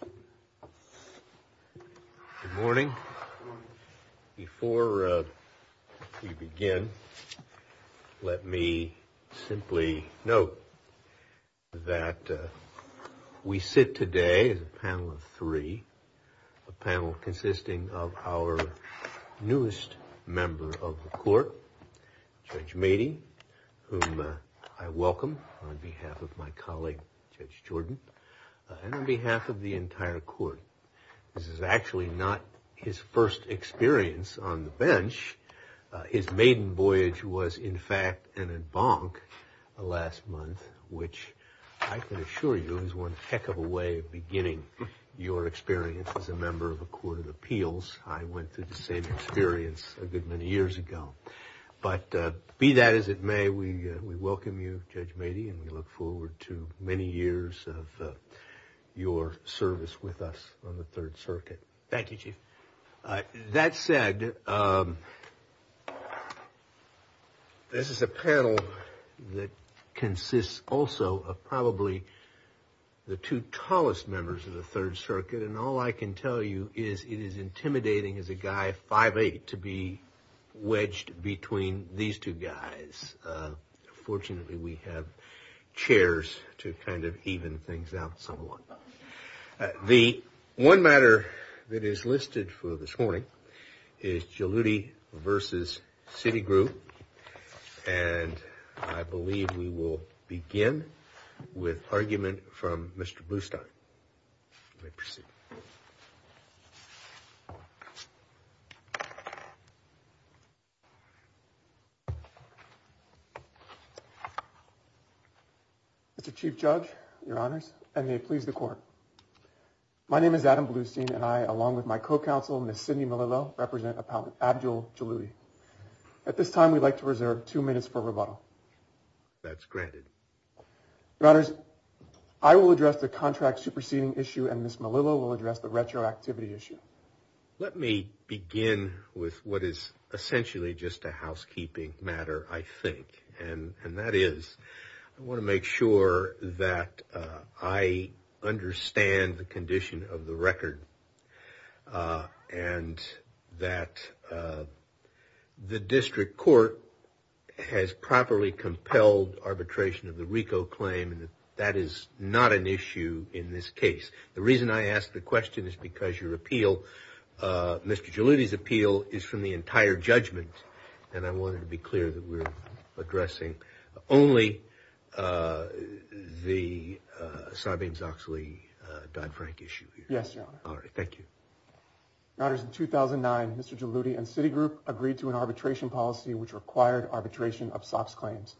Good morning. Before we begin, let me simply note that we sit today as a panel of three, a panel consisting of our newest member of the court, Judge Meadey, whom I welcome on behalf of the entire court. This is actually not his first experience on the bench. His maiden voyage was, in fact, an embankment last month, which I can assure you is one heck of a way of beginning your experience as a member of the Court of Appeals. I went through the same experience a good many years ago. But be that as it may, we welcome you, your service with us on the Third Circuit. Thank you, Chief. That said, this is a panel that consists also of probably the two tallest members of the Third Circuit, and all I can tell you is it is intimidating as a guy 5'8 to be wedged between these two guys. Fortunately, we have chairs to kind of even things out somewhat. The one matter that is listed for this morning is Jaludi v. City Group, and I believe we will begin with argument from Mr. Blustein. Mr. Chief Judge, Your Honors, and may it please the Court. My name is Adam Blustein, and I, along with my co-counsel, Ms. Malillo, will address the retroactivity issue. Let me begin with what is essentially just a housekeeping matter, I think, and that is I want to make sure that I understand the condition of the record and that the district court has properly compelled arbitration of the RICO claim. That is not an issue in this case. The reason I ask the question is because your appeal, Mr. Jaludi's appeal, is from the entire judgment, and I wanted to be clear that we're addressing only the Sarbanes-Oxley Dodd-Frank issue here. Yes, Your Honor. All right, thank you. Your Honors, in 2009, Mr. Jaludi and City Group agreed to an arbitration policy which required arbitration of SOX claims.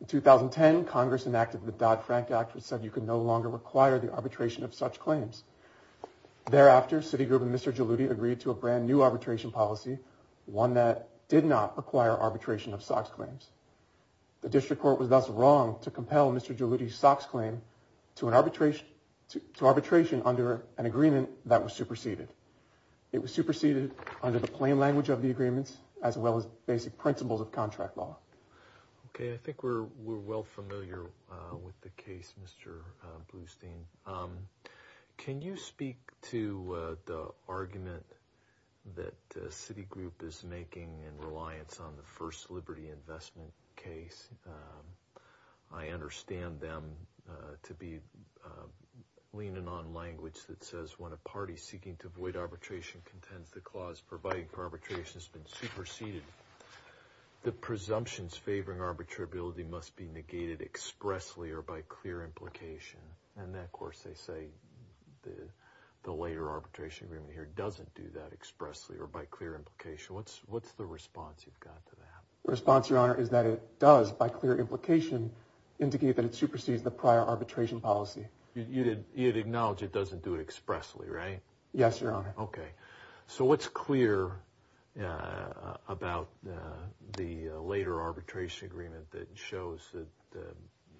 In 2010, Congress enacted the Dodd-Frank Act, which said you could no longer require the arbitration of such claims. Thereafter, City Group and Mr. Jaludi agreed to a brand new arbitration policy, one that did not require arbitration of SOX claims. The district court was thus wrong to compel Mr. Jaludi's SOX claim to arbitration under an agreement that was superseded. It was superseded under the plain language of the agreements as well as basic principles of contract law. Okay, I think we're well familiar with the case, Mr. Blustein. Can you speak to the argument that City Group is making in reliance on the first liberty investment case? I understand them to be leaning on language that says when a party seeking to avoid arbitration contends the clause providing for arbitration has been superseded, the presumptions favoring arbitrability must be negated expressly or by clear implication. And then, The response, Your Honor, is that it does, by clear implication, indicate that it supersedes the prior arbitration policy. You acknowledge it doesn't do it expressly, right? Yes, Your Honor. Okay. So what's clear about the later arbitration agreement that shows that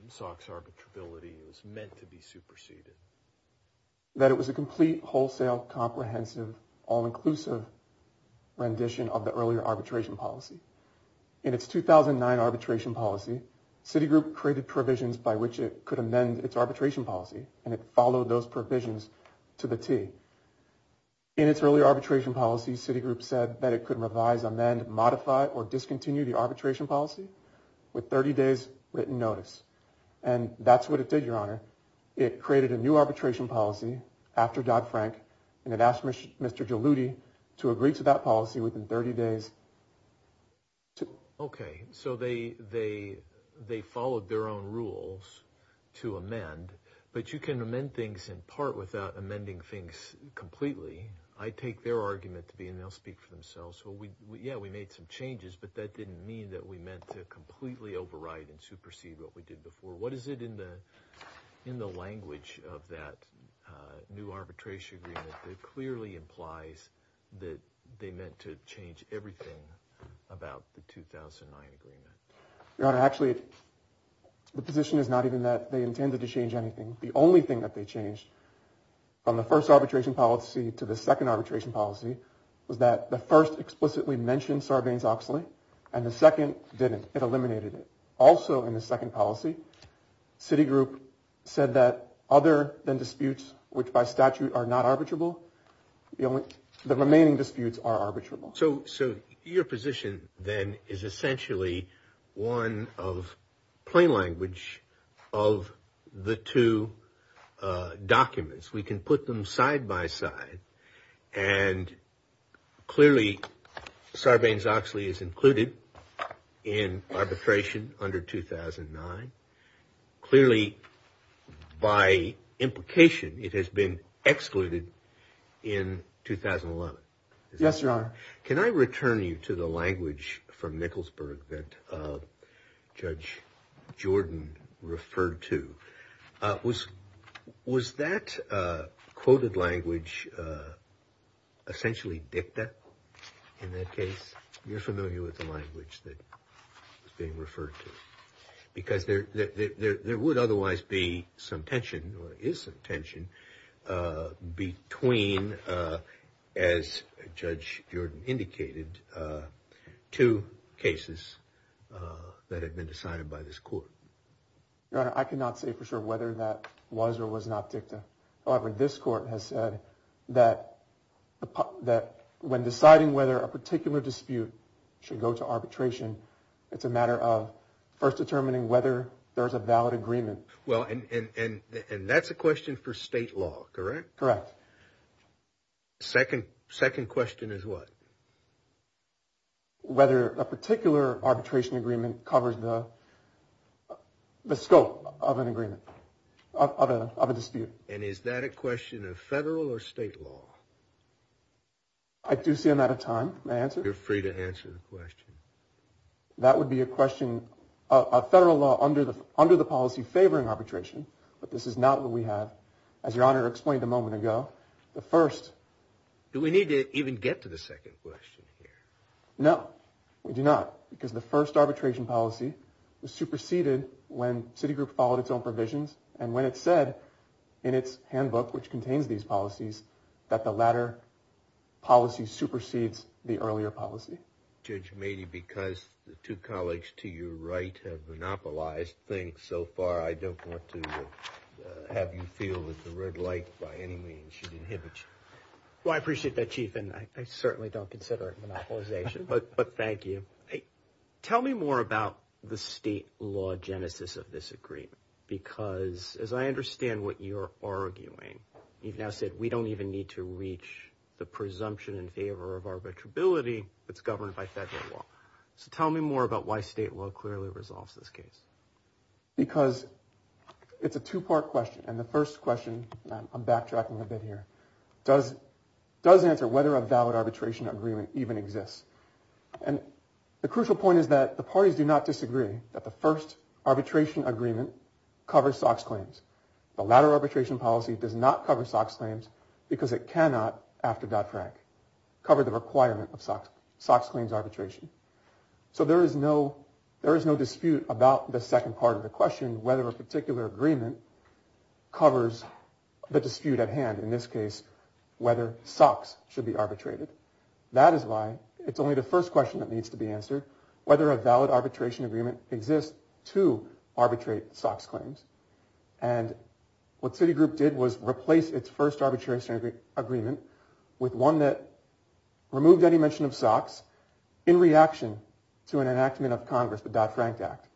SOX arbitrability is meant to be In its 2009 arbitration policy, City Group created provisions by which it could amend its arbitration policy, and it followed those provisions to the T. In its earlier arbitration policy, City Group said that it could revise, amend, modify, or discontinue the arbitration policy with 30 days' written notice. And that's what it did, Your Honor. It created a new arbitration policy after Dodd-Frank, and it asked Mr. Geludi to agree to that policy within 30 days. Okay. So they followed their own rules to amend, but you can amend things in part without amending things completely. I take their argument to be, and they'll speak for language of that new arbitration agreement that clearly implies that they meant to change everything about the 2009 agreement. Your Honor, actually, the position is not even that they intended to change anything. The only thing that they changed from the first arbitration policy to the second arbitration policy was that the first explicitly mentioned Sarbanes-Oxley, and the second didn't. It eliminated it. Also, in the second policy, City Group said that other than disputes which by statute are not arbitrable, the remaining disputes are arbitrable. So your position then is essentially one of plain language of the documents. We can put them side by side, and clearly Sarbanes-Oxley is included in arbitration under 2009. Clearly, by implication, it has been excluded in Was that quoted language essentially dicta in that case? You're familiar with the language that is being referred to? Because there would otherwise be some Your Honor, I cannot say for sure whether that was or was not dicta. However, this court has said that when deciding whether a particular dispute should go to arbitration, it's a matter of first determining whether there's a valid agreement. Well, and that's a question for state law, correct? Correct. Second question is what? Whether a particular arbitration agreement covers the scope of an agreement, of a dispute. And is that a question of federal or state law? I do see I'm out of time. May I answer? You're free to answer the question. That would be a question of federal law under the policy favoring Do we need to even get to the second question here? No, we do not, because the first arbitration policy was superseded when Citigroup followed its own provisions, and when it said in its handbook, which contains these policies, that the latter policy supersedes the earlier policy. Judge Mady, because the two I appreciate that, Chief, and I certainly don't consider it monopolization, but thank you. Tell me more about the state law genesis of this agreement, because as I understand what you're arguing, you've now said we don't even need to reach the presumption in favor of arbitrability that's governed by federal law. So tell me more about why state law clearly resolves this case. Because it's a two-part question, and the first question, I'm backtracking a bit here, does answer whether a valid arbitration agreement even exists. And the crucial point is that the parties do not disagree that the first arbitration agreement covers SOX claims. The latter arbitration policy does not cover SOX claims because it cannot, after Dodd-Frank, cover the So there is no dispute about the second part of the question, whether a particular agreement covers the dispute at hand, in this case, whether SOX should be arbitrated. That is why it's only the first question that needs to be answered, whether a valid arbitration agreement exists to arbitrate SOX claims. And what Citigroup did was replace its first arbitration agreement with one that removed any mention of SOX in reaction to an enactment of Congress, the Dodd-Frank Act.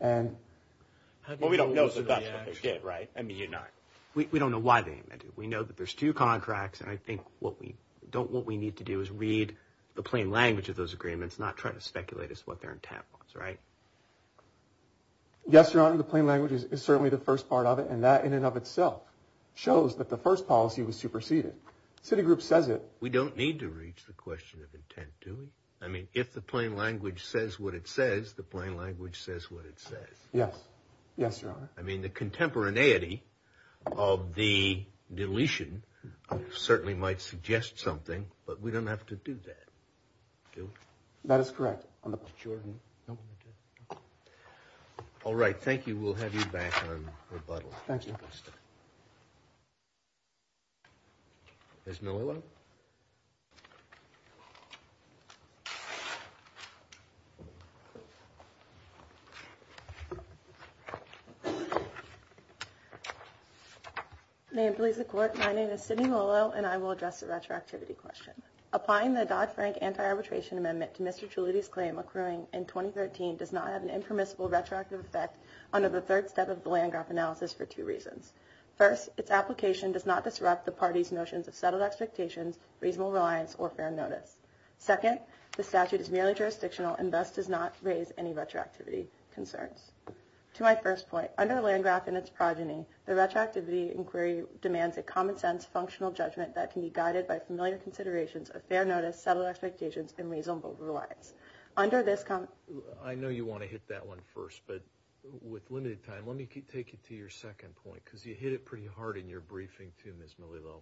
And, well, we don't know, so that's what they did, right? I mean, you're not, we don't know why they didn't do it. We know that there's two contracts, and I think what we need to do is read the plain language of those agreements, not try to speculate as to what their intent was, right? Yes, Your Honor, the plain language is certainly the first part of it, and that in and of itself shows that the first policy was superseded. Citigroup says it. We don't need to reach the question of intent, do we? I mean, if the plain language says what it says, the plain language says what it says. Yes. Yes, Your Honor. I mean, the contemporaneity of the deletion certainly might suggest something, but we don't have to do that, do we? That is correct, Your Honor. All right, thank you. We'll have you back on rebuttal. Thank you. Ms. Malillo? May it please the Court, my name is Sydney Malillo, and I will address the retroactivity question. Applying the Dodd-Frank Anti-Arbitration Amendment to Mr. Landgraf in 2013 does not have an impermissible retroactive effect under the third step of the Landgraf analysis for two reasons. First, its application does not disrupt the party's notions of settled expectations, reasonable reliance, or fair notice. Second, the statute is merely jurisdictional and thus does not raise any retroactivity concerns. To my first point, under Landgraf and its progeny, the retroactivity inquiry demands a common-sense, functional judgment that can be guided by familiar considerations of fair notice, settled expectations, and reasonable reliance. Under this... I know you want to hit that one first, but with limited time, let me take you to your second point, because you hit it pretty hard in your briefing too, Ms. Malillo.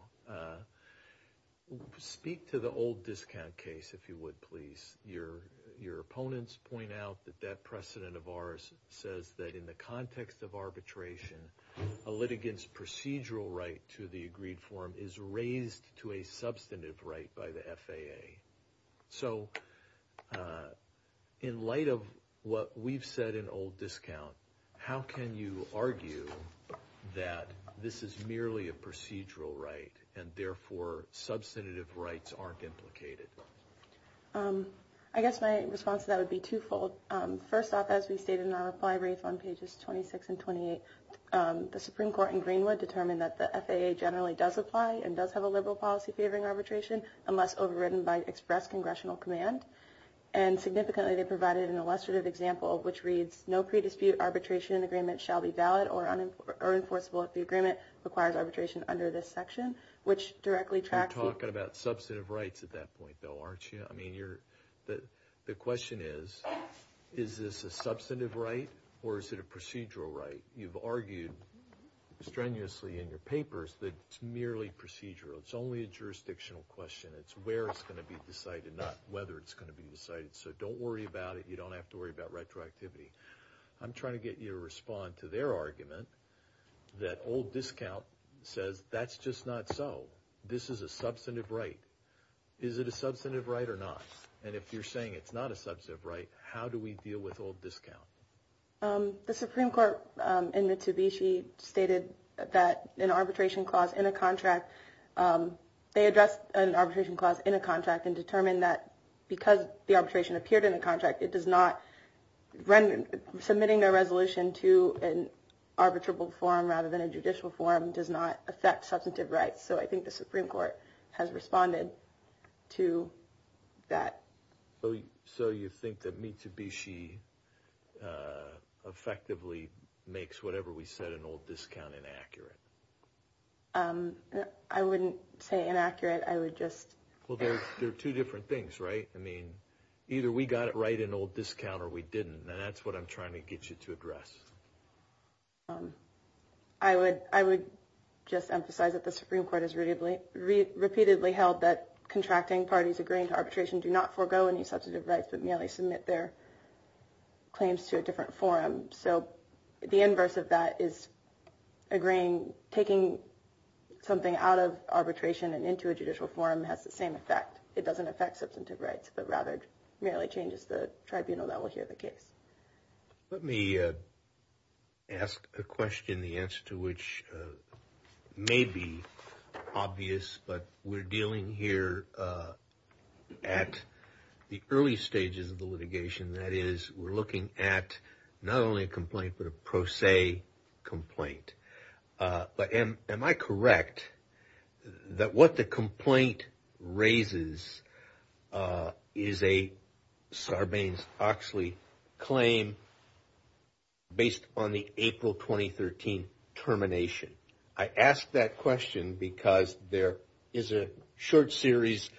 Speak to the old discount case, if you would, please. Your opponents point out that that precedent of ours says that in the context of arbitration, a litigant's procedural right to the agreed form is raised to a substantive right by the FAA. So, in light of what we've said in old discount, how can you argue that this is merely a procedural right and therefore substantive rights aren't implicated? I guess my response to that would be twofold. First off, as we stated in our reply brief on pages 26 and 28, the Supreme Court in Greenwood determined that the FAA generally does apply and does have a liberal policy favoring arbitration unless overridden by express congressional command. And significantly, they provided an illustrative example, which reads, no pre-dispute arbitration agreement shall be valid or enforceable if the agreement requires arbitration under this section, which directly tracks... You're talking about substantive rights at that point, though, aren't you? I mean, the question is, is this a substantive right or is it a procedural right? You've argued strenuously in your papers that it's merely procedural. It's only a jurisdictional question. It's where it's going to be decided, not whether it's going to be decided. So don't worry about it. You don't have to worry about retroactivity. I'm trying to get you to respond to their argument that old discount says that's just not so. This is a substantive right. Is it a substantive right or not? And if you're saying it's not a substantive right, how do we deal with old discount? The Supreme Court in Mitsubishi stated that an arbitration clause in a contract... They addressed an arbitration clause in a contract and determined that because the arbitration appeared in the contract, it does not... Submitting a resolution to an arbitrable forum rather than a judicial forum does not affect substantive rights. So I think the Supreme Court has responded to that. So you think that Mitsubishi effectively makes whatever we said an old discount inaccurate? I wouldn't say inaccurate. I would just... Well, there are two different things, right? I mean, either we got it right in old discount or we didn't, and that's what I'm trying to get you to address. I would just emphasize that the Supreme Court has repeatedly held that contracting parties agreeing to arbitration do not forego any substantive rights but merely submit their claims to a different forum. So the inverse of that is agreeing... Taking something out of arbitration and into a judicial forum has the same effect. It doesn't affect substantive rights, but rather merely changes the tribunal that will hear the case. Let me ask a question, the answer to which may be obvious, but we're dealing here at the early stages of the litigation. That is, we're looking at not only a complaint but a pro se complaint. But am I correct that what the complaint raises is a Sarbanes-Oxley claim based on the April 2013 termination? I ask that question because there is a short series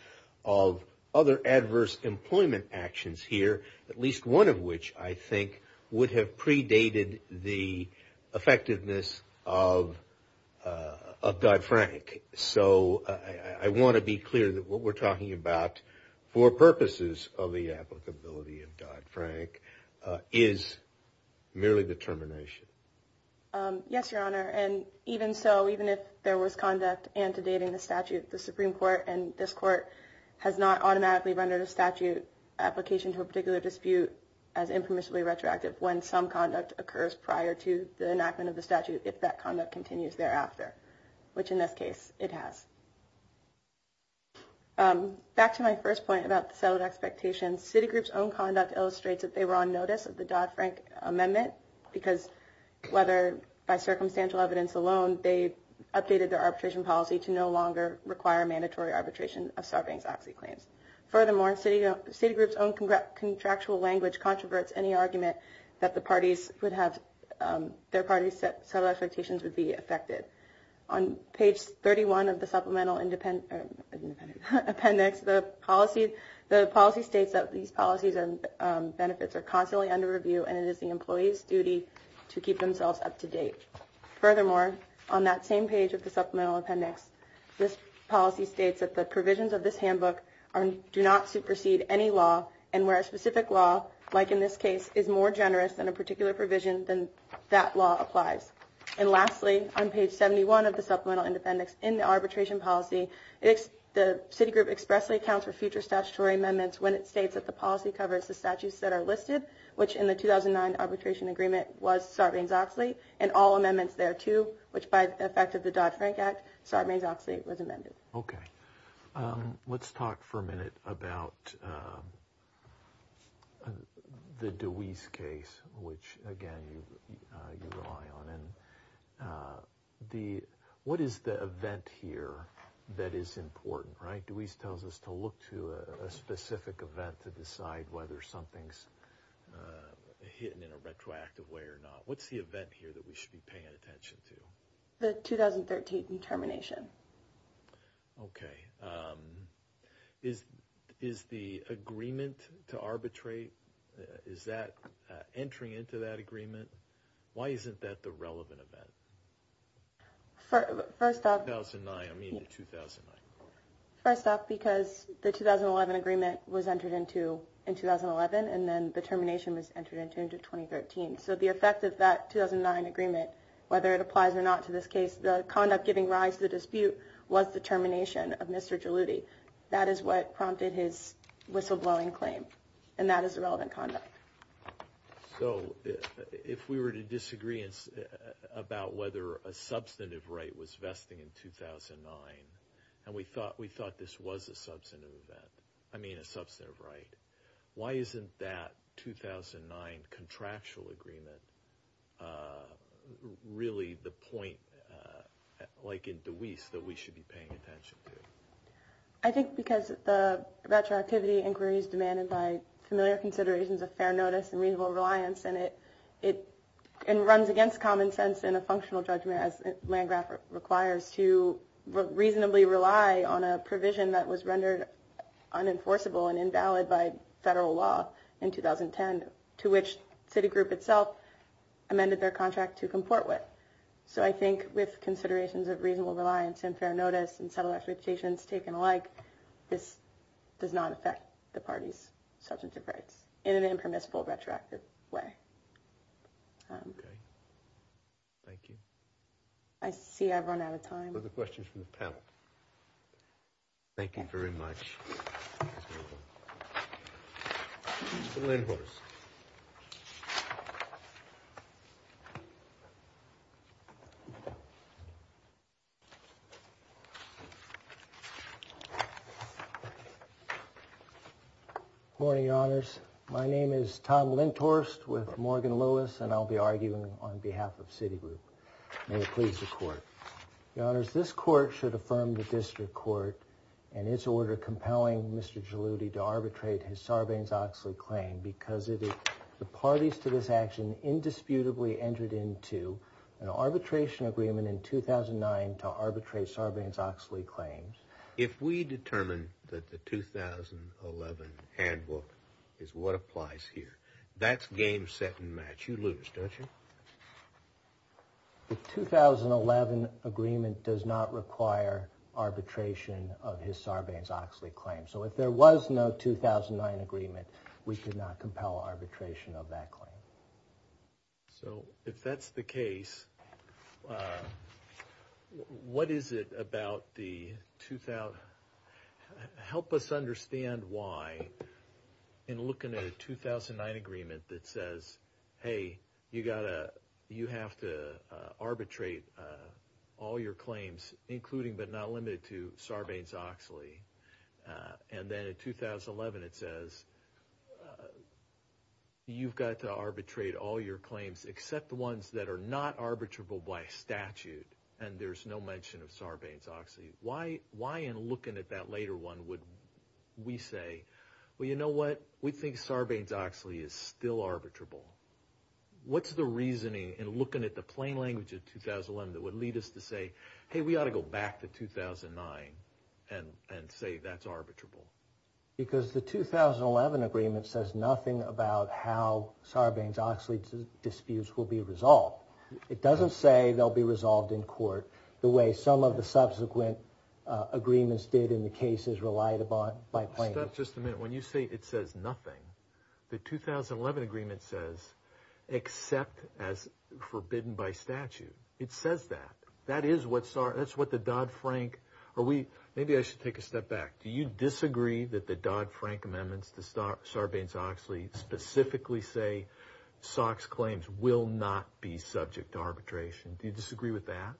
of other adverse employment actions here, at least one of which I think would have predated the effectiveness of Dodd-Frank. So I want to be clear that what we're talking about for purposes of the applicability of Dodd-Frank is merely the termination. Yes, Your Honor, and even so, even if there was conduct antedating the statute, the Supreme Court and this Court has not automatically rendered a statute application to a particular dispute as impermissibly retroactive when some conduct occurs prior to the enactment of the statute, if that conduct continues thereafter, which in this case it has. Back to my first point about the settled expectations, Citigroup's own conduct illustrates that they were on notice of the Dodd-Frank amendment because whether by circumstantial evidence alone, they updated their arbitration policy to no longer require mandatory arbitration of Sarbanes-Oxley claims. Furthermore, Citigroup's own contractual language controverts any argument that their parties' settled expectations would be affected. On page 31 of the supplemental appendix, the policy states that these policies and benefits are constantly under review and it is the employee's duty to keep themselves up to date. Furthermore, on that same page of the supplemental appendix, this policy states that the provisions of this handbook do not supersede any law and where a specific law, like in this case, is more generous than a particular provision, then that law applies. And lastly, on page 71 of the supplemental appendix, in the arbitration policy, the Citigroup expressly accounts for future statutory amendments when it states that the policy covers the statutes that are listed, which in the 2009 arbitration agreement was Sarbanes-Oxley, and all amendments thereto, which by the effect of the Dodd-Frank Act, Sarbanes-Oxley was amended. Okay. Let's talk for a minute about the DeWeese case, which, again, you rely on. And what is the event here that is important, right? DeWeese tells us to look to a specific event to decide whether something's hidden in a retroactive way or not. What's the event here that we should be paying attention to? The 2013 termination. Okay. Is the agreement to arbitrate, is that entering into that agreement? Why isn't that the relevant event? First off... 2009, I mean the 2009. First off, because the 2011 agreement was entered into in 2011, and then the termination was entered into in 2013. So the effect of that 2009 agreement, whether it applies or not to this case, the conduct giving rise to the dispute was the termination of Mr. Jaluti. That is what prompted his whistleblowing claim. And that is the relevant conduct. So if we were to disagree about whether a substantive right was vesting in 2009, and we thought this was a substantive event, I mean a substantive right, why isn't that 2009 contractual agreement really the point, like in DeWeese, that we should be paying attention to? I think because the retroactivity inquiry is demanded by familiar considerations of fair notice and reasonable reliance, and it runs against common sense in a functional judgment as Landgraf requires to reasonably rely on a provision that was rendered unenforceable and invalid by federal law in 2010, to which Citigroup itself amended their contract to comport with. So I think with considerations of reasonable reliance and fair notice and several expectations taken alike, this does not affect the party's substantive rights in an impermissible, retroactive way. Okay. Thank you. I see I've run out of time. Are there questions from the panel? Thank you very much. Mr. Lindhorst. Morning, your honors. My name is Tom Lindhorst with Morgan Lewis, and I'll be arguing on behalf of Citigroup. Your honors, this court should affirm the district court and its order compelling Mr. Geludi to arbitrate his Sarbanes-Oxley claim because the parties to this action indisputably entered into an arbitration agreement in 2009 to arbitrate Sarbanes-Oxley claims. If we determine that the 2011 handbook is what applies here, that's game, set, and match. You lose, don't you? The 2011 agreement does not require arbitration of his Sarbanes-Oxley claim. So if there was no 2009 agreement, we could not compel arbitration of that claim. So if that's the case, what is it about the 2000... ...except the ones that are not arbitrable by statute, and there's no mention of Sarbanes-Oxley, why in looking at that later one would we say, well, you know what? We think Sarbanes-Oxley is still arbitrable. What's the reasoning in looking at the plain language of 2011 that would lead us to say, hey, we ought to go back to 2009 and say that's arbitrable? Because the 2011 agreement says nothing about how Sarbanes-Oxley disputes will be resolved. It doesn't say they'll be resolved in court the way some of the subsequent agreements did in the cases relied upon by plain language. Let's stop just a minute. When you say it says nothing, the 2011 agreement says except as forbidden by statute. It says that. That is what the Dodd-Frank... Maybe I should take a step back. Do you disagree that the Dodd-Frank amendments to Sarbanes-Oxley specifically say Sox claims will not be subject to arbitration? Do you disagree with that?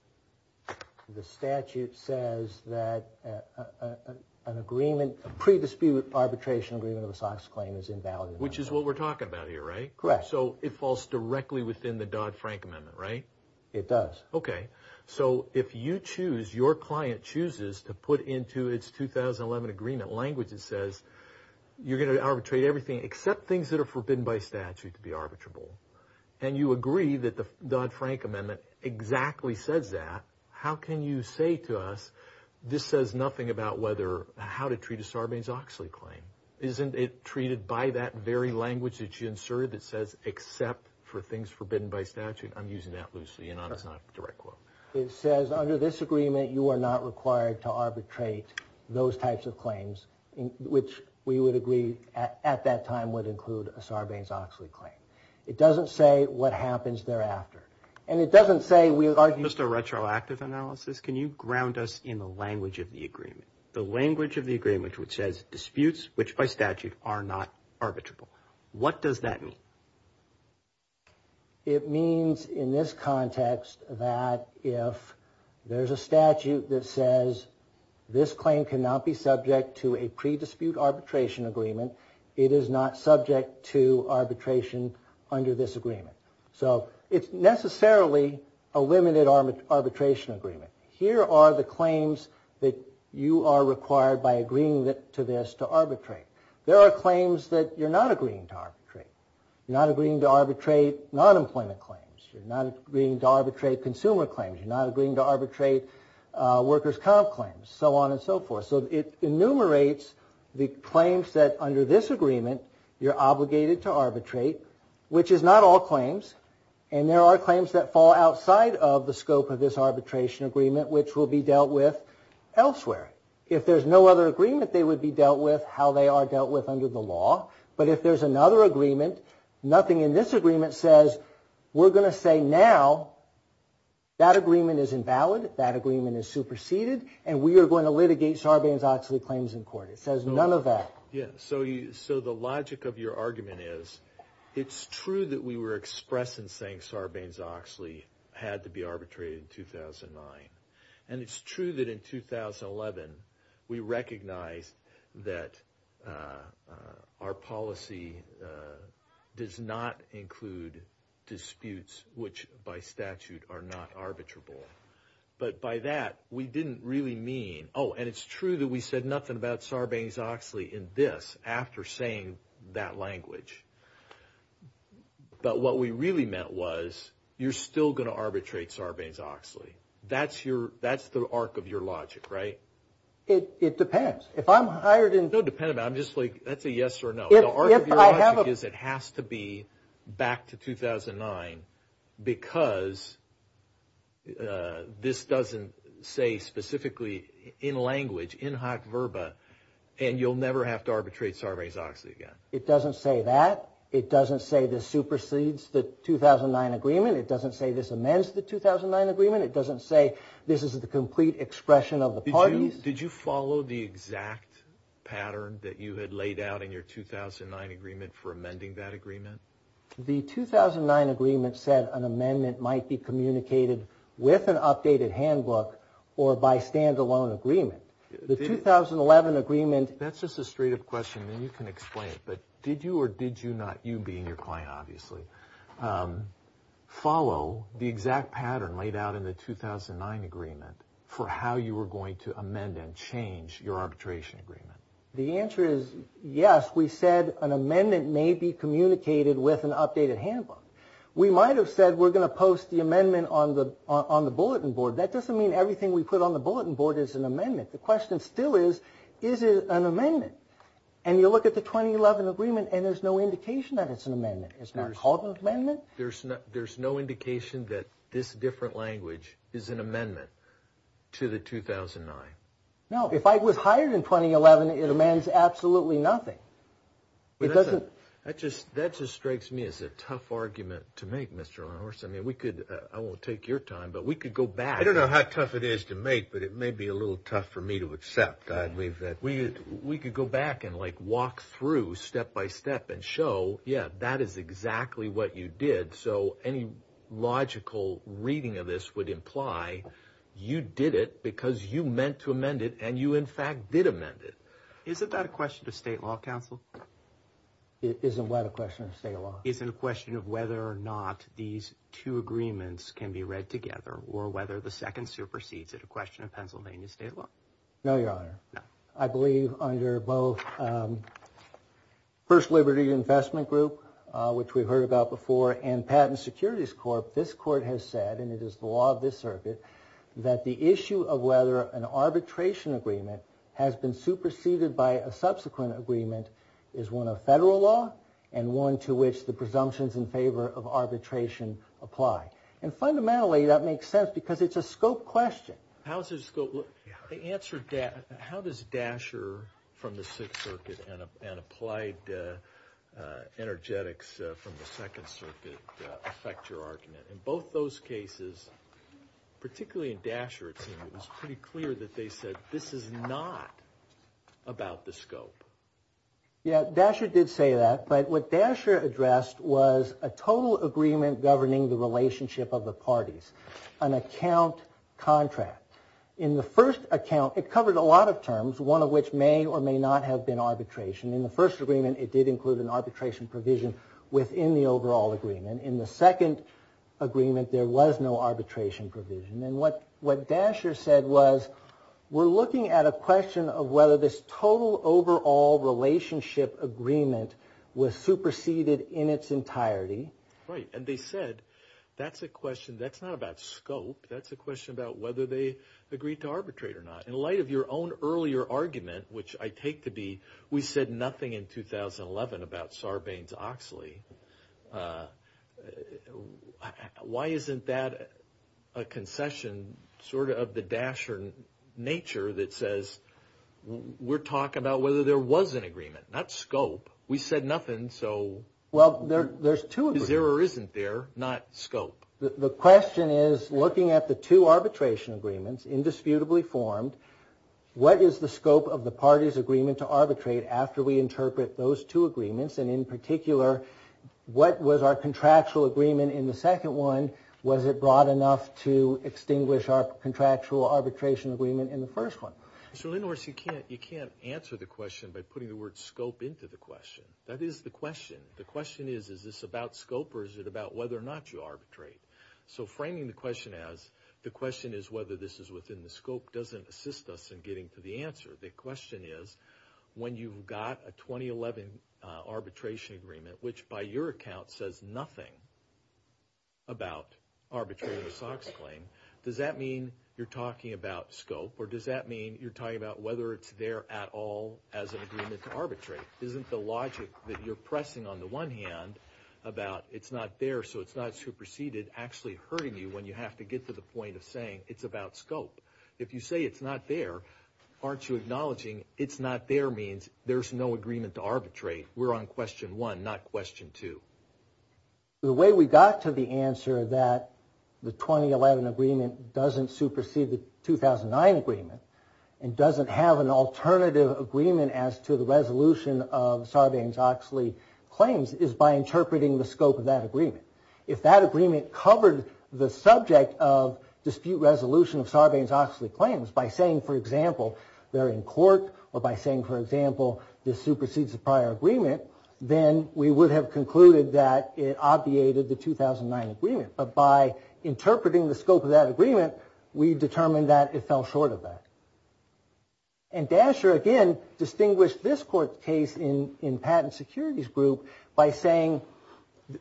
The statute says that an agreement, a pre-dispute arbitration agreement of a Sox claim is invalid. Which is what we're talking about here, right? Correct. So it falls directly within the Dodd-Frank amendment, right? It does. Okay. So if you choose, your client chooses to put into its 2011 agreement language that says you're going to arbitrate everything except things that are forbidden by statute to be arbitrable, and you agree that the Dodd-Frank amendment exactly says that, how can you say to us this says nothing about how to treat a Sarbanes-Oxley claim? Isn't it treated by that very language that you inserted that says except for things forbidden by statute? I'm using that loosely and it's not a direct quote. It says under this agreement you are not required to arbitrate those types of claims, which we would agree at that time would include a Sarbanes-Oxley claim. It doesn't say what happens thereafter. And it doesn't say we argue... Just a retroactive analysis, can you ground us in the language of the agreement? The language of the agreement which says disputes which by statute are not arbitrable. What does that mean? It means in this context that if there's a statute that says this claim cannot be subject to a pre-dispute arbitration agreement, it is not subject to arbitration under this agreement. So it's necessarily a limited arbitration agreement. Here are the claims that you are required by agreeing to this to arbitrate. There are claims that you're not agreeing to arbitrate. You're not agreeing to arbitrate non-employment claims, you're not agreeing to arbitrate consumer claims, you're not agreeing to arbitrate workers' comp claims, so on and so forth. So it enumerates the claims that under this agreement you're obligated to arbitrate, which is not all claims, and there are claims that fall outside of the scope of this arbitration agreement which will be dealt with elsewhere. If there's no other agreement they would be dealt with how they are dealt with under the law, but if there's another agreement, nothing in this agreement says we're going to say now that agreement is invalid, that agreement is superseded, and we are going to litigate Sarbanes-Oxley claims in court. It says none of that. Oh, and it's true that we said nothing about Sarbanes-Oxley in this after saying that language, but what we really meant was you're still going to arbitrate Sarbanes-Oxley. That's the arc of your logic, right? It depends. If I'm hired in... No, it depends. I'm just like, that's a yes or no. The arc of your logic is it has to be back to 2009 because this doesn't say specifically in language, in hot verba, and you'll never have to arbitrate Sarbanes-Oxley again. It doesn't say that. It doesn't say this supersedes the 2009 agreement. It doesn't say this amends the 2009 agreement. It doesn't say this is the complete expression of the parties. Did you follow the exact pattern that you had laid out in your 2009 agreement for amending that agreement? The 2009 agreement said an amendment might be communicated with an updated handbook or by standalone agreement. The 2011 agreement... That's just a straight up question and you can explain it, but did you or did you not, you being your client obviously, follow the exact pattern laid out in the 2009 agreement for how you were going to amend and change your arbitration agreement? The answer is yes. We said an amendment may be communicated with an updated handbook. We might have said we're going to post the amendment on the bulletin board. That doesn't mean everything we put on the bulletin board is an amendment. The question still is, is it an amendment? And you look at the 2011 agreement and there's no indication that it's an amendment. It's not called an amendment. There's no indication that this different language is an amendment to the 2009? No. If I was hired in 2011, it amends absolutely nothing. That just strikes me as a tough argument to make, Mr. Arnor. I won't take your time, but we could go back... I don't know how tough it is to make, but it may be a little tough for me to accept. We could go back and walk through step by step and show, yeah, that is exactly what you did. So any logical reading of this would imply you did it because you meant to amend it and you in fact did amend it. Isn't that a question of state law, counsel? Isn't what a question of state law? Isn't a question of whether or not these two agreements can be read together or whether the second supersedes it, a question of Pennsylvania state law? No, Your Honor. No. First Liberty Investment Group, which we've heard about before, and Patent and Securities Corp, this court has said, and it is the law of this circuit, that the issue of whether an arbitration agreement has been superseded by a subsequent agreement is one of federal law and one to which the presumptions in favor of arbitration apply. And fundamentally, that makes sense because it's a scope question. How does Dasher from the Sixth Circuit and applied energetics from the Second Circuit affect your argument? In both those cases, particularly in Dasher, it was pretty clear that they said this is not about the scope. Yeah, Dasher did say that. But what Dasher addressed was a total agreement governing the relationship of the parties, an account contract. In the first account, it covered a lot of terms, one of which may or may not have been arbitration. In the first agreement, it did include an arbitration provision within the overall agreement. In the second agreement, there was no arbitration provision. And what Dasher said was we're looking at a question of whether this total overall relationship agreement was superseded in its entirety. Right. And they said that's a question. That's not about scope. That's a question about whether they agreed to arbitrate or not. In light of your own earlier argument, which I take to be we said nothing in 2011 about Sarbanes-Oxley, why isn't that a concession sort of the Dasher nature that says we're talking about whether there was an agreement, not scope? We said nothing, so there isn't there, not scope. The question is, looking at the two arbitration agreements, indisputably formed, what is the scope of the parties' agreement to arbitrate after we interpret those two agreements? And in particular, what was our contractual agreement in the second one? Was it broad enough to extinguish our contractual arbitration agreement in the first one? So in other words, you can't answer the question by putting the word scope into the question. That is the question. The question is, is this about scope or is it about whether or not you arbitrate? So framing the question as the question is whether this is within the scope doesn't assist us in getting to the answer. The question is, when you've got a 2011 arbitration agreement, which by your account says nothing about arbitrating a SOX claim, does that mean you're talking about scope or does that mean you're talking about whether it's there at all as an agreement to arbitrate? Isn't the logic that you're pressing on the one hand about it's not there so it's not superseded actually hurting you when you have to get to the point of saying it's about scope? If you say it's not there, aren't you acknowledging it's not there means there's no agreement to arbitrate? We're on question one, not question two. The way we got to the answer that the 2011 agreement doesn't supersede the 2009 agreement and doesn't have an alternative agreement as to the resolution of Sarbanes-Oxley claims is by interpreting the scope of that agreement. If that agreement covered the subject of dispute resolution of Sarbanes-Oxley claims by saying, for example, they're in court or by saying, for example, this supersedes the prior agreement, then we would have concluded that it obviated the 2009 agreement. But by interpreting the scope of that agreement, we determined that it fell short of that. And Dasher, again, distinguished this court case in patent securities group by saying,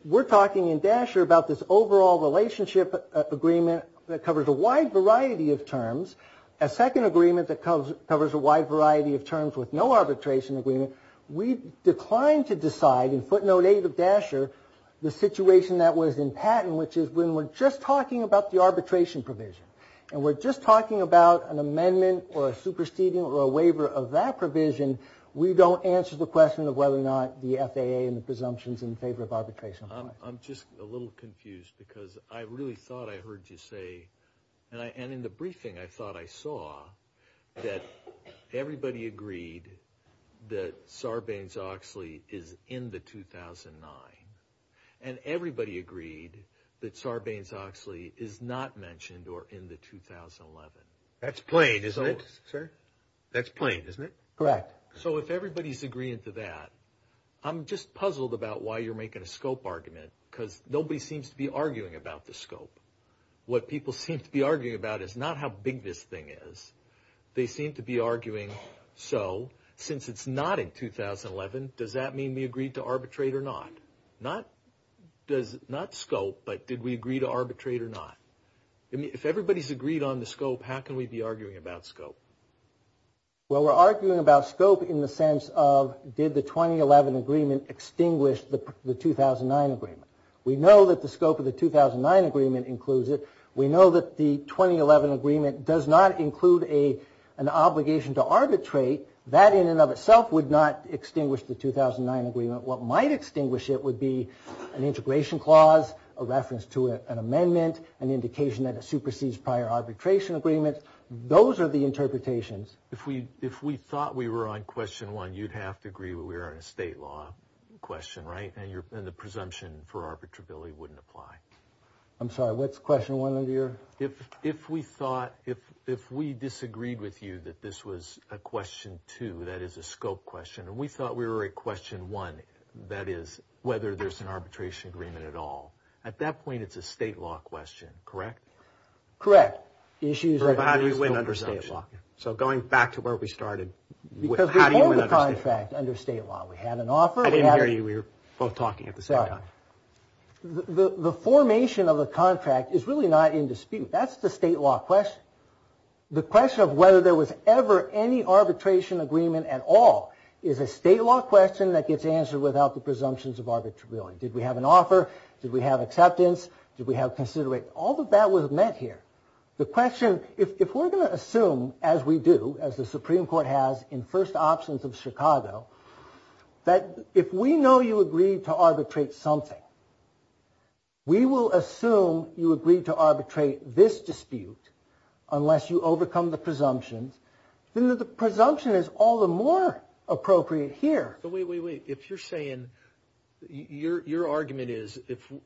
we're talking in Dasher about this overall relationship agreement that covers a wide variety of terms, a second agreement that covers a wide variety of terms with no arbitration agreement. We declined to decide in footnote eight of Dasher the situation that was in patent, which is when we're just talking about the arbitration provision. And we're just talking about an amendment or a superseding or a waiver of that provision, we don't answer the question of whether or not the FAA and the presumptions in favor of arbitration apply. I'm just a little confused because I really thought I heard you say, and in the briefing I thought I saw that everybody agreed that Sarbanes-Oxley is in the 2009. And everybody agreed that Sarbanes-Oxley is not mentioned or in the 2011. That's plain, isn't it, sir? That's plain, isn't it? Correct. So if everybody's agreeing to that, I'm just puzzled about why you're making a scope argument because nobody seems to be arguing about the scope. What people seem to be arguing about is not how big this thing is. They seem to be arguing, so since it's not in 2011, does that mean we agreed to arbitrate or not? Not scope, but did we agree to arbitrate or not? If everybody's agreed on the scope, how can we be arguing about scope? Well, we're arguing about scope in the sense of did the 2011 agreement extinguish the 2009 agreement? We know that the scope of the 2009 agreement includes it. We know that the 2011 agreement does not include an obligation to arbitrate. That in and of itself would not extinguish the 2009 agreement. What might extinguish it would be an integration clause, a reference to an amendment, an indication that it supersedes prior arbitration agreements. Those are the interpretations. If we thought we were on question one, you'd have to agree we were on a state law question, right, and the presumption for arbitrability wouldn't apply. I'm sorry, what's question one under your? If we disagreed with you that this was a question two, that is a scope question, and we thought we were at question one, that is whether there's an arbitration agreement at all, at that point it's a state law question, correct? Correct. How do you win under state law? I didn't hear you. We were both talking at the same time. The formation of a contract is really not in dispute. That's the state law question. The question of whether there was ever any arbitration agreement at all is a state law question that gets answered without the presumptions of arbitrability. Did we have an offer? Did we have acceptance? Did we have consideration? All of that was met here. The question, if we're going to assume, as we do, as the Supreme Court has in first absence of Chicago, that if we know you agreed to arbitrate something, we will assume you agreed to arbitrate this dispute unless you overcome the presumptions, then the presumption is all the more appropriate here. Wait, wait, wait. If you're saying, your argument is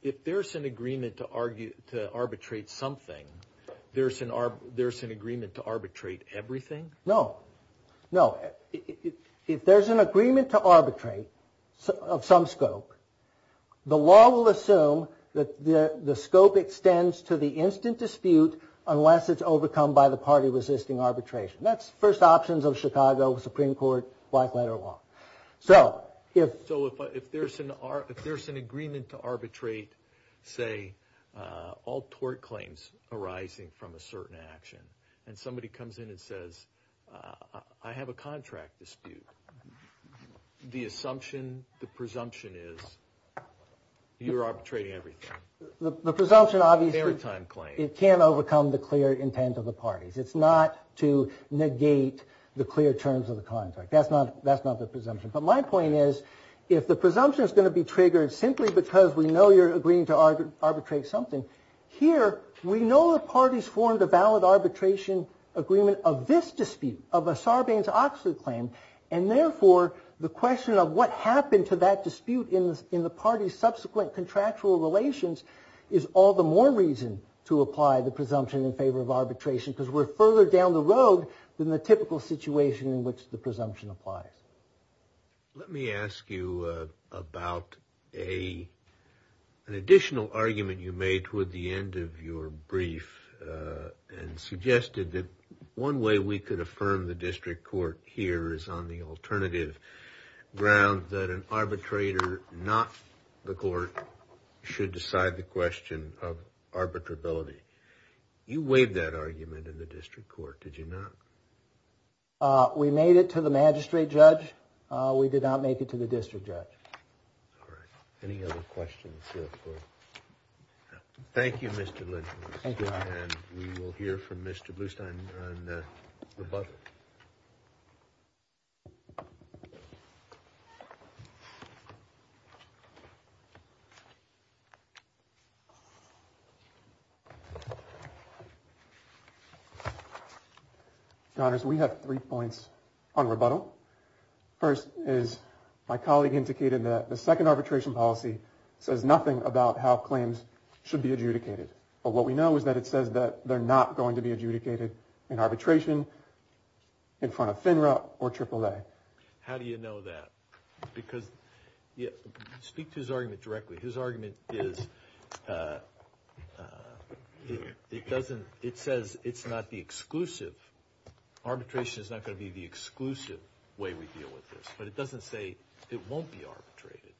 if there's an agreement to arbitrate something, there's an agreement to arbitrate everything? No, no. If there's an agreement to arbitrate of some scope, the law will assume that the scope extends to the instant dispute unless it's overcome by the party resisting arbitration. That's first options of Chicago Supreme Court black letter law. So if there's an agreement to arbitrate, say, all tort claims arising from a certain action, and somebody comes in and says, I have a contract dispute, the assumption, the presumption is you're arbitrating everything. The presumption obviously can't overcome the clear intent of the parties. It's not to negate the clear terms of the contract. That's not the presumption. But my point is, if the presumption is going to be triggered simply because we know you're agreeing to arbitrate something, here we know the parties formed a valid arbitration agreement of this dispute, of a Sarbanes-Oxley claim, and therefore the question of what happened to that dispute in the party's subsequent contractual relations is all the more reason to apply the presumption in favor of arbitration because we're further down the road than the typical situation in which the presumption applies. Let me ask you about an additional argument you made toward the end of your brief and suggested that one way we could affirm the district court here is on the alternative ground that an arbitrator, not the court, should decide the question of arbitrability. You weighed that argument in the district court, did you not? We made it to the magistrate judge. We did not make it to the district judge. Any other questions? Thank you, Mr. Lynch. We will hear from Mr. Blustein on rebuttal. Your Honors, we have three points on rebuttal. First, as my colleague indicated, the second arbitration policy says nothing about how claims should be adjudicated. But what we know is that it says that they're not going to be adjudicated in arbitration in front of FINRA or AAA. How do you know that? Because speak to his argument directly. His argument is it says it's not the exclusive. Arbitration is not going to be the exclusive way we deal with this. But it doesn't say it won't be arbitrated.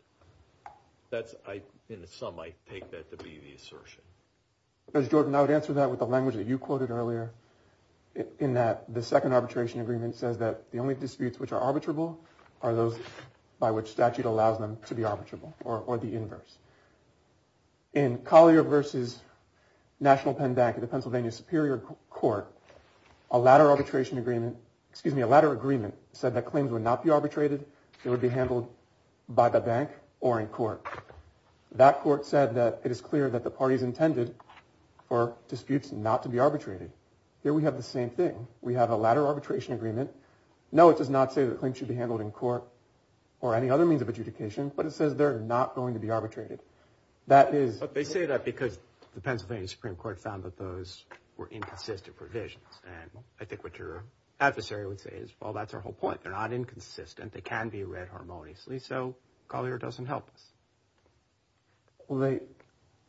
In the sum, I take that to be the assertion. Mr. Jordan, I would answer that with the language that you quoted earlier, in that the second arbitration agreement says that the only disputes which are arbitrable are those by which statute allows them to be arbitrable, or the inverse. In Collier v. National Penn Bank in the Pennsylvania Superior Court, a latter agreement said that claims would not be arbitrated. They would be handled by the bank or in court. That court said that it is clear that the parties intended for disputes not to be arbitrated. Here we have the same thing. We have a latter arbitration agreement. No, it does not say that claims should be handled in court or any other means of adjudication, but it says they're not going to be arbitrated. They say that because the Pennsylvania Supreme Court found that those were inconsistent provisions. I think what your adversary would say is, well, that's our whole point. They're not inconsistent. They can be read harmoniously, so Collier doesn't help us. Well,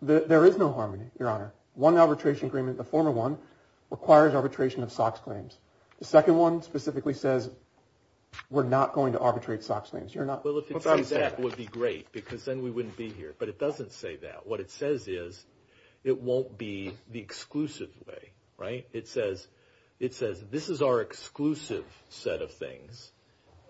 there is no harmony, Your Honor. One arbitration agreement, the former one, requires arbitration of SOX claims. The second one specifically says we're not going to arbitrate SOX claims. Well, if it says that, it would be great because then we wouldn't be here, but it doesn't say that. What it says is it won't be the exclusive way. It says this is our exclusive set of things,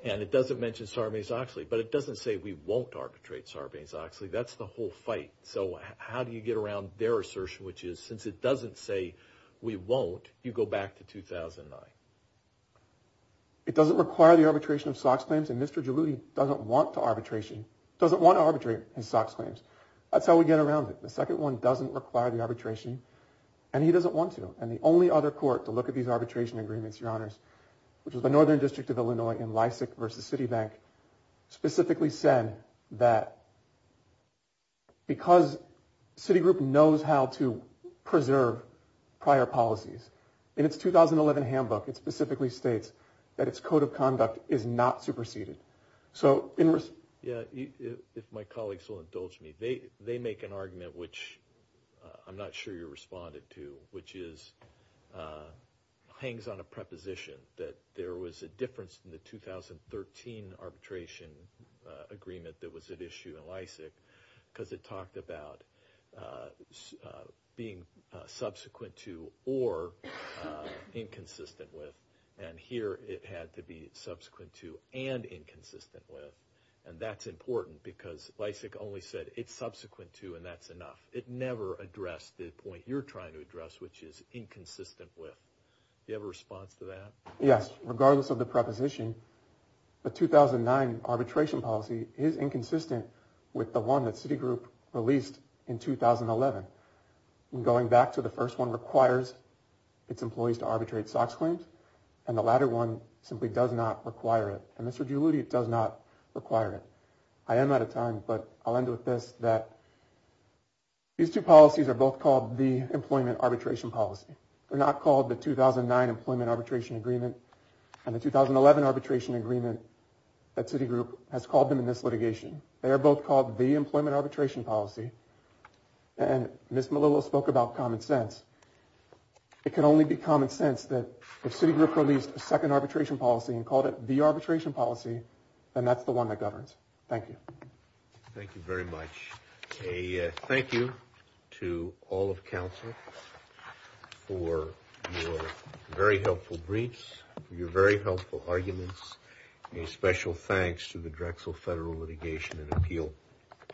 and it doesn't mention Sarbanes-Oxley, but it doesn't say we won't arbitrate Sarbanes-Oxley. That's the whole fight. So how do you get around their assertion, which is since it doesn't say we won't, you go back to 2009? It doesn't require the arbitration of SOX claims, and Mr. Giuliani doesn't want to arbitrate his SOX claims. That's how we get around it. The second one doesn't require the arbitration, and he doesn't want to, and the only other court to look at these arbitration agreements, which is the Northern District of Illinois in Lysak v. Citibank, specifically said that because Citigroup knows how to preserve prior policies, in its 2011 handbook it specifically states that its code of conduct is not superseded. If my colleagues will indulge me, they make an argument which I'm not sure you responded to, which hangs on a preposition that there was a difference in the 2013 arbitration agreement that was at issue in Lysak because it talked about being subsequent to or inconsistent with, and here it had to be subsequent to and inconsistent with, and that's important because Lysak only said it's subsequent to and that's enough. It never addressed the point you're trying to address, which is inconsistent with. Do you have a response to that? Yes, regardless of the preposition, the 2009 arbitration policy is inconsistent with the one that Citigroup released in 2011. Going back to the first one requires its employees to arbitrate SOX claims, and the latter one simply does not require it, and Mr. Giuludi does not require it. I am out of time, but I'll end with this, that these two policies are both called the employment arbitration policy. They're not called the 2009 employment arbitration agreement and the 2011 arbitration agreement that Citigroup has called them in this litigation. They are both called the employment arbitration policy, and Ms. Melillo spoke about common sense. It can only be common sense that if Citigroup released a second arbitration policy and called it the arbitration policy, then that's the one that governs. Thank you. Thank you very much. A thank you to all of counsel for your very helpful briefs, for your very helpful arguments. A special thanks to the Drexel Federal Litigation and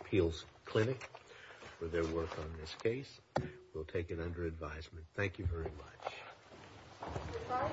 Appeals Clinic for their work on this case. We'll take it under advisement. Thank you very much.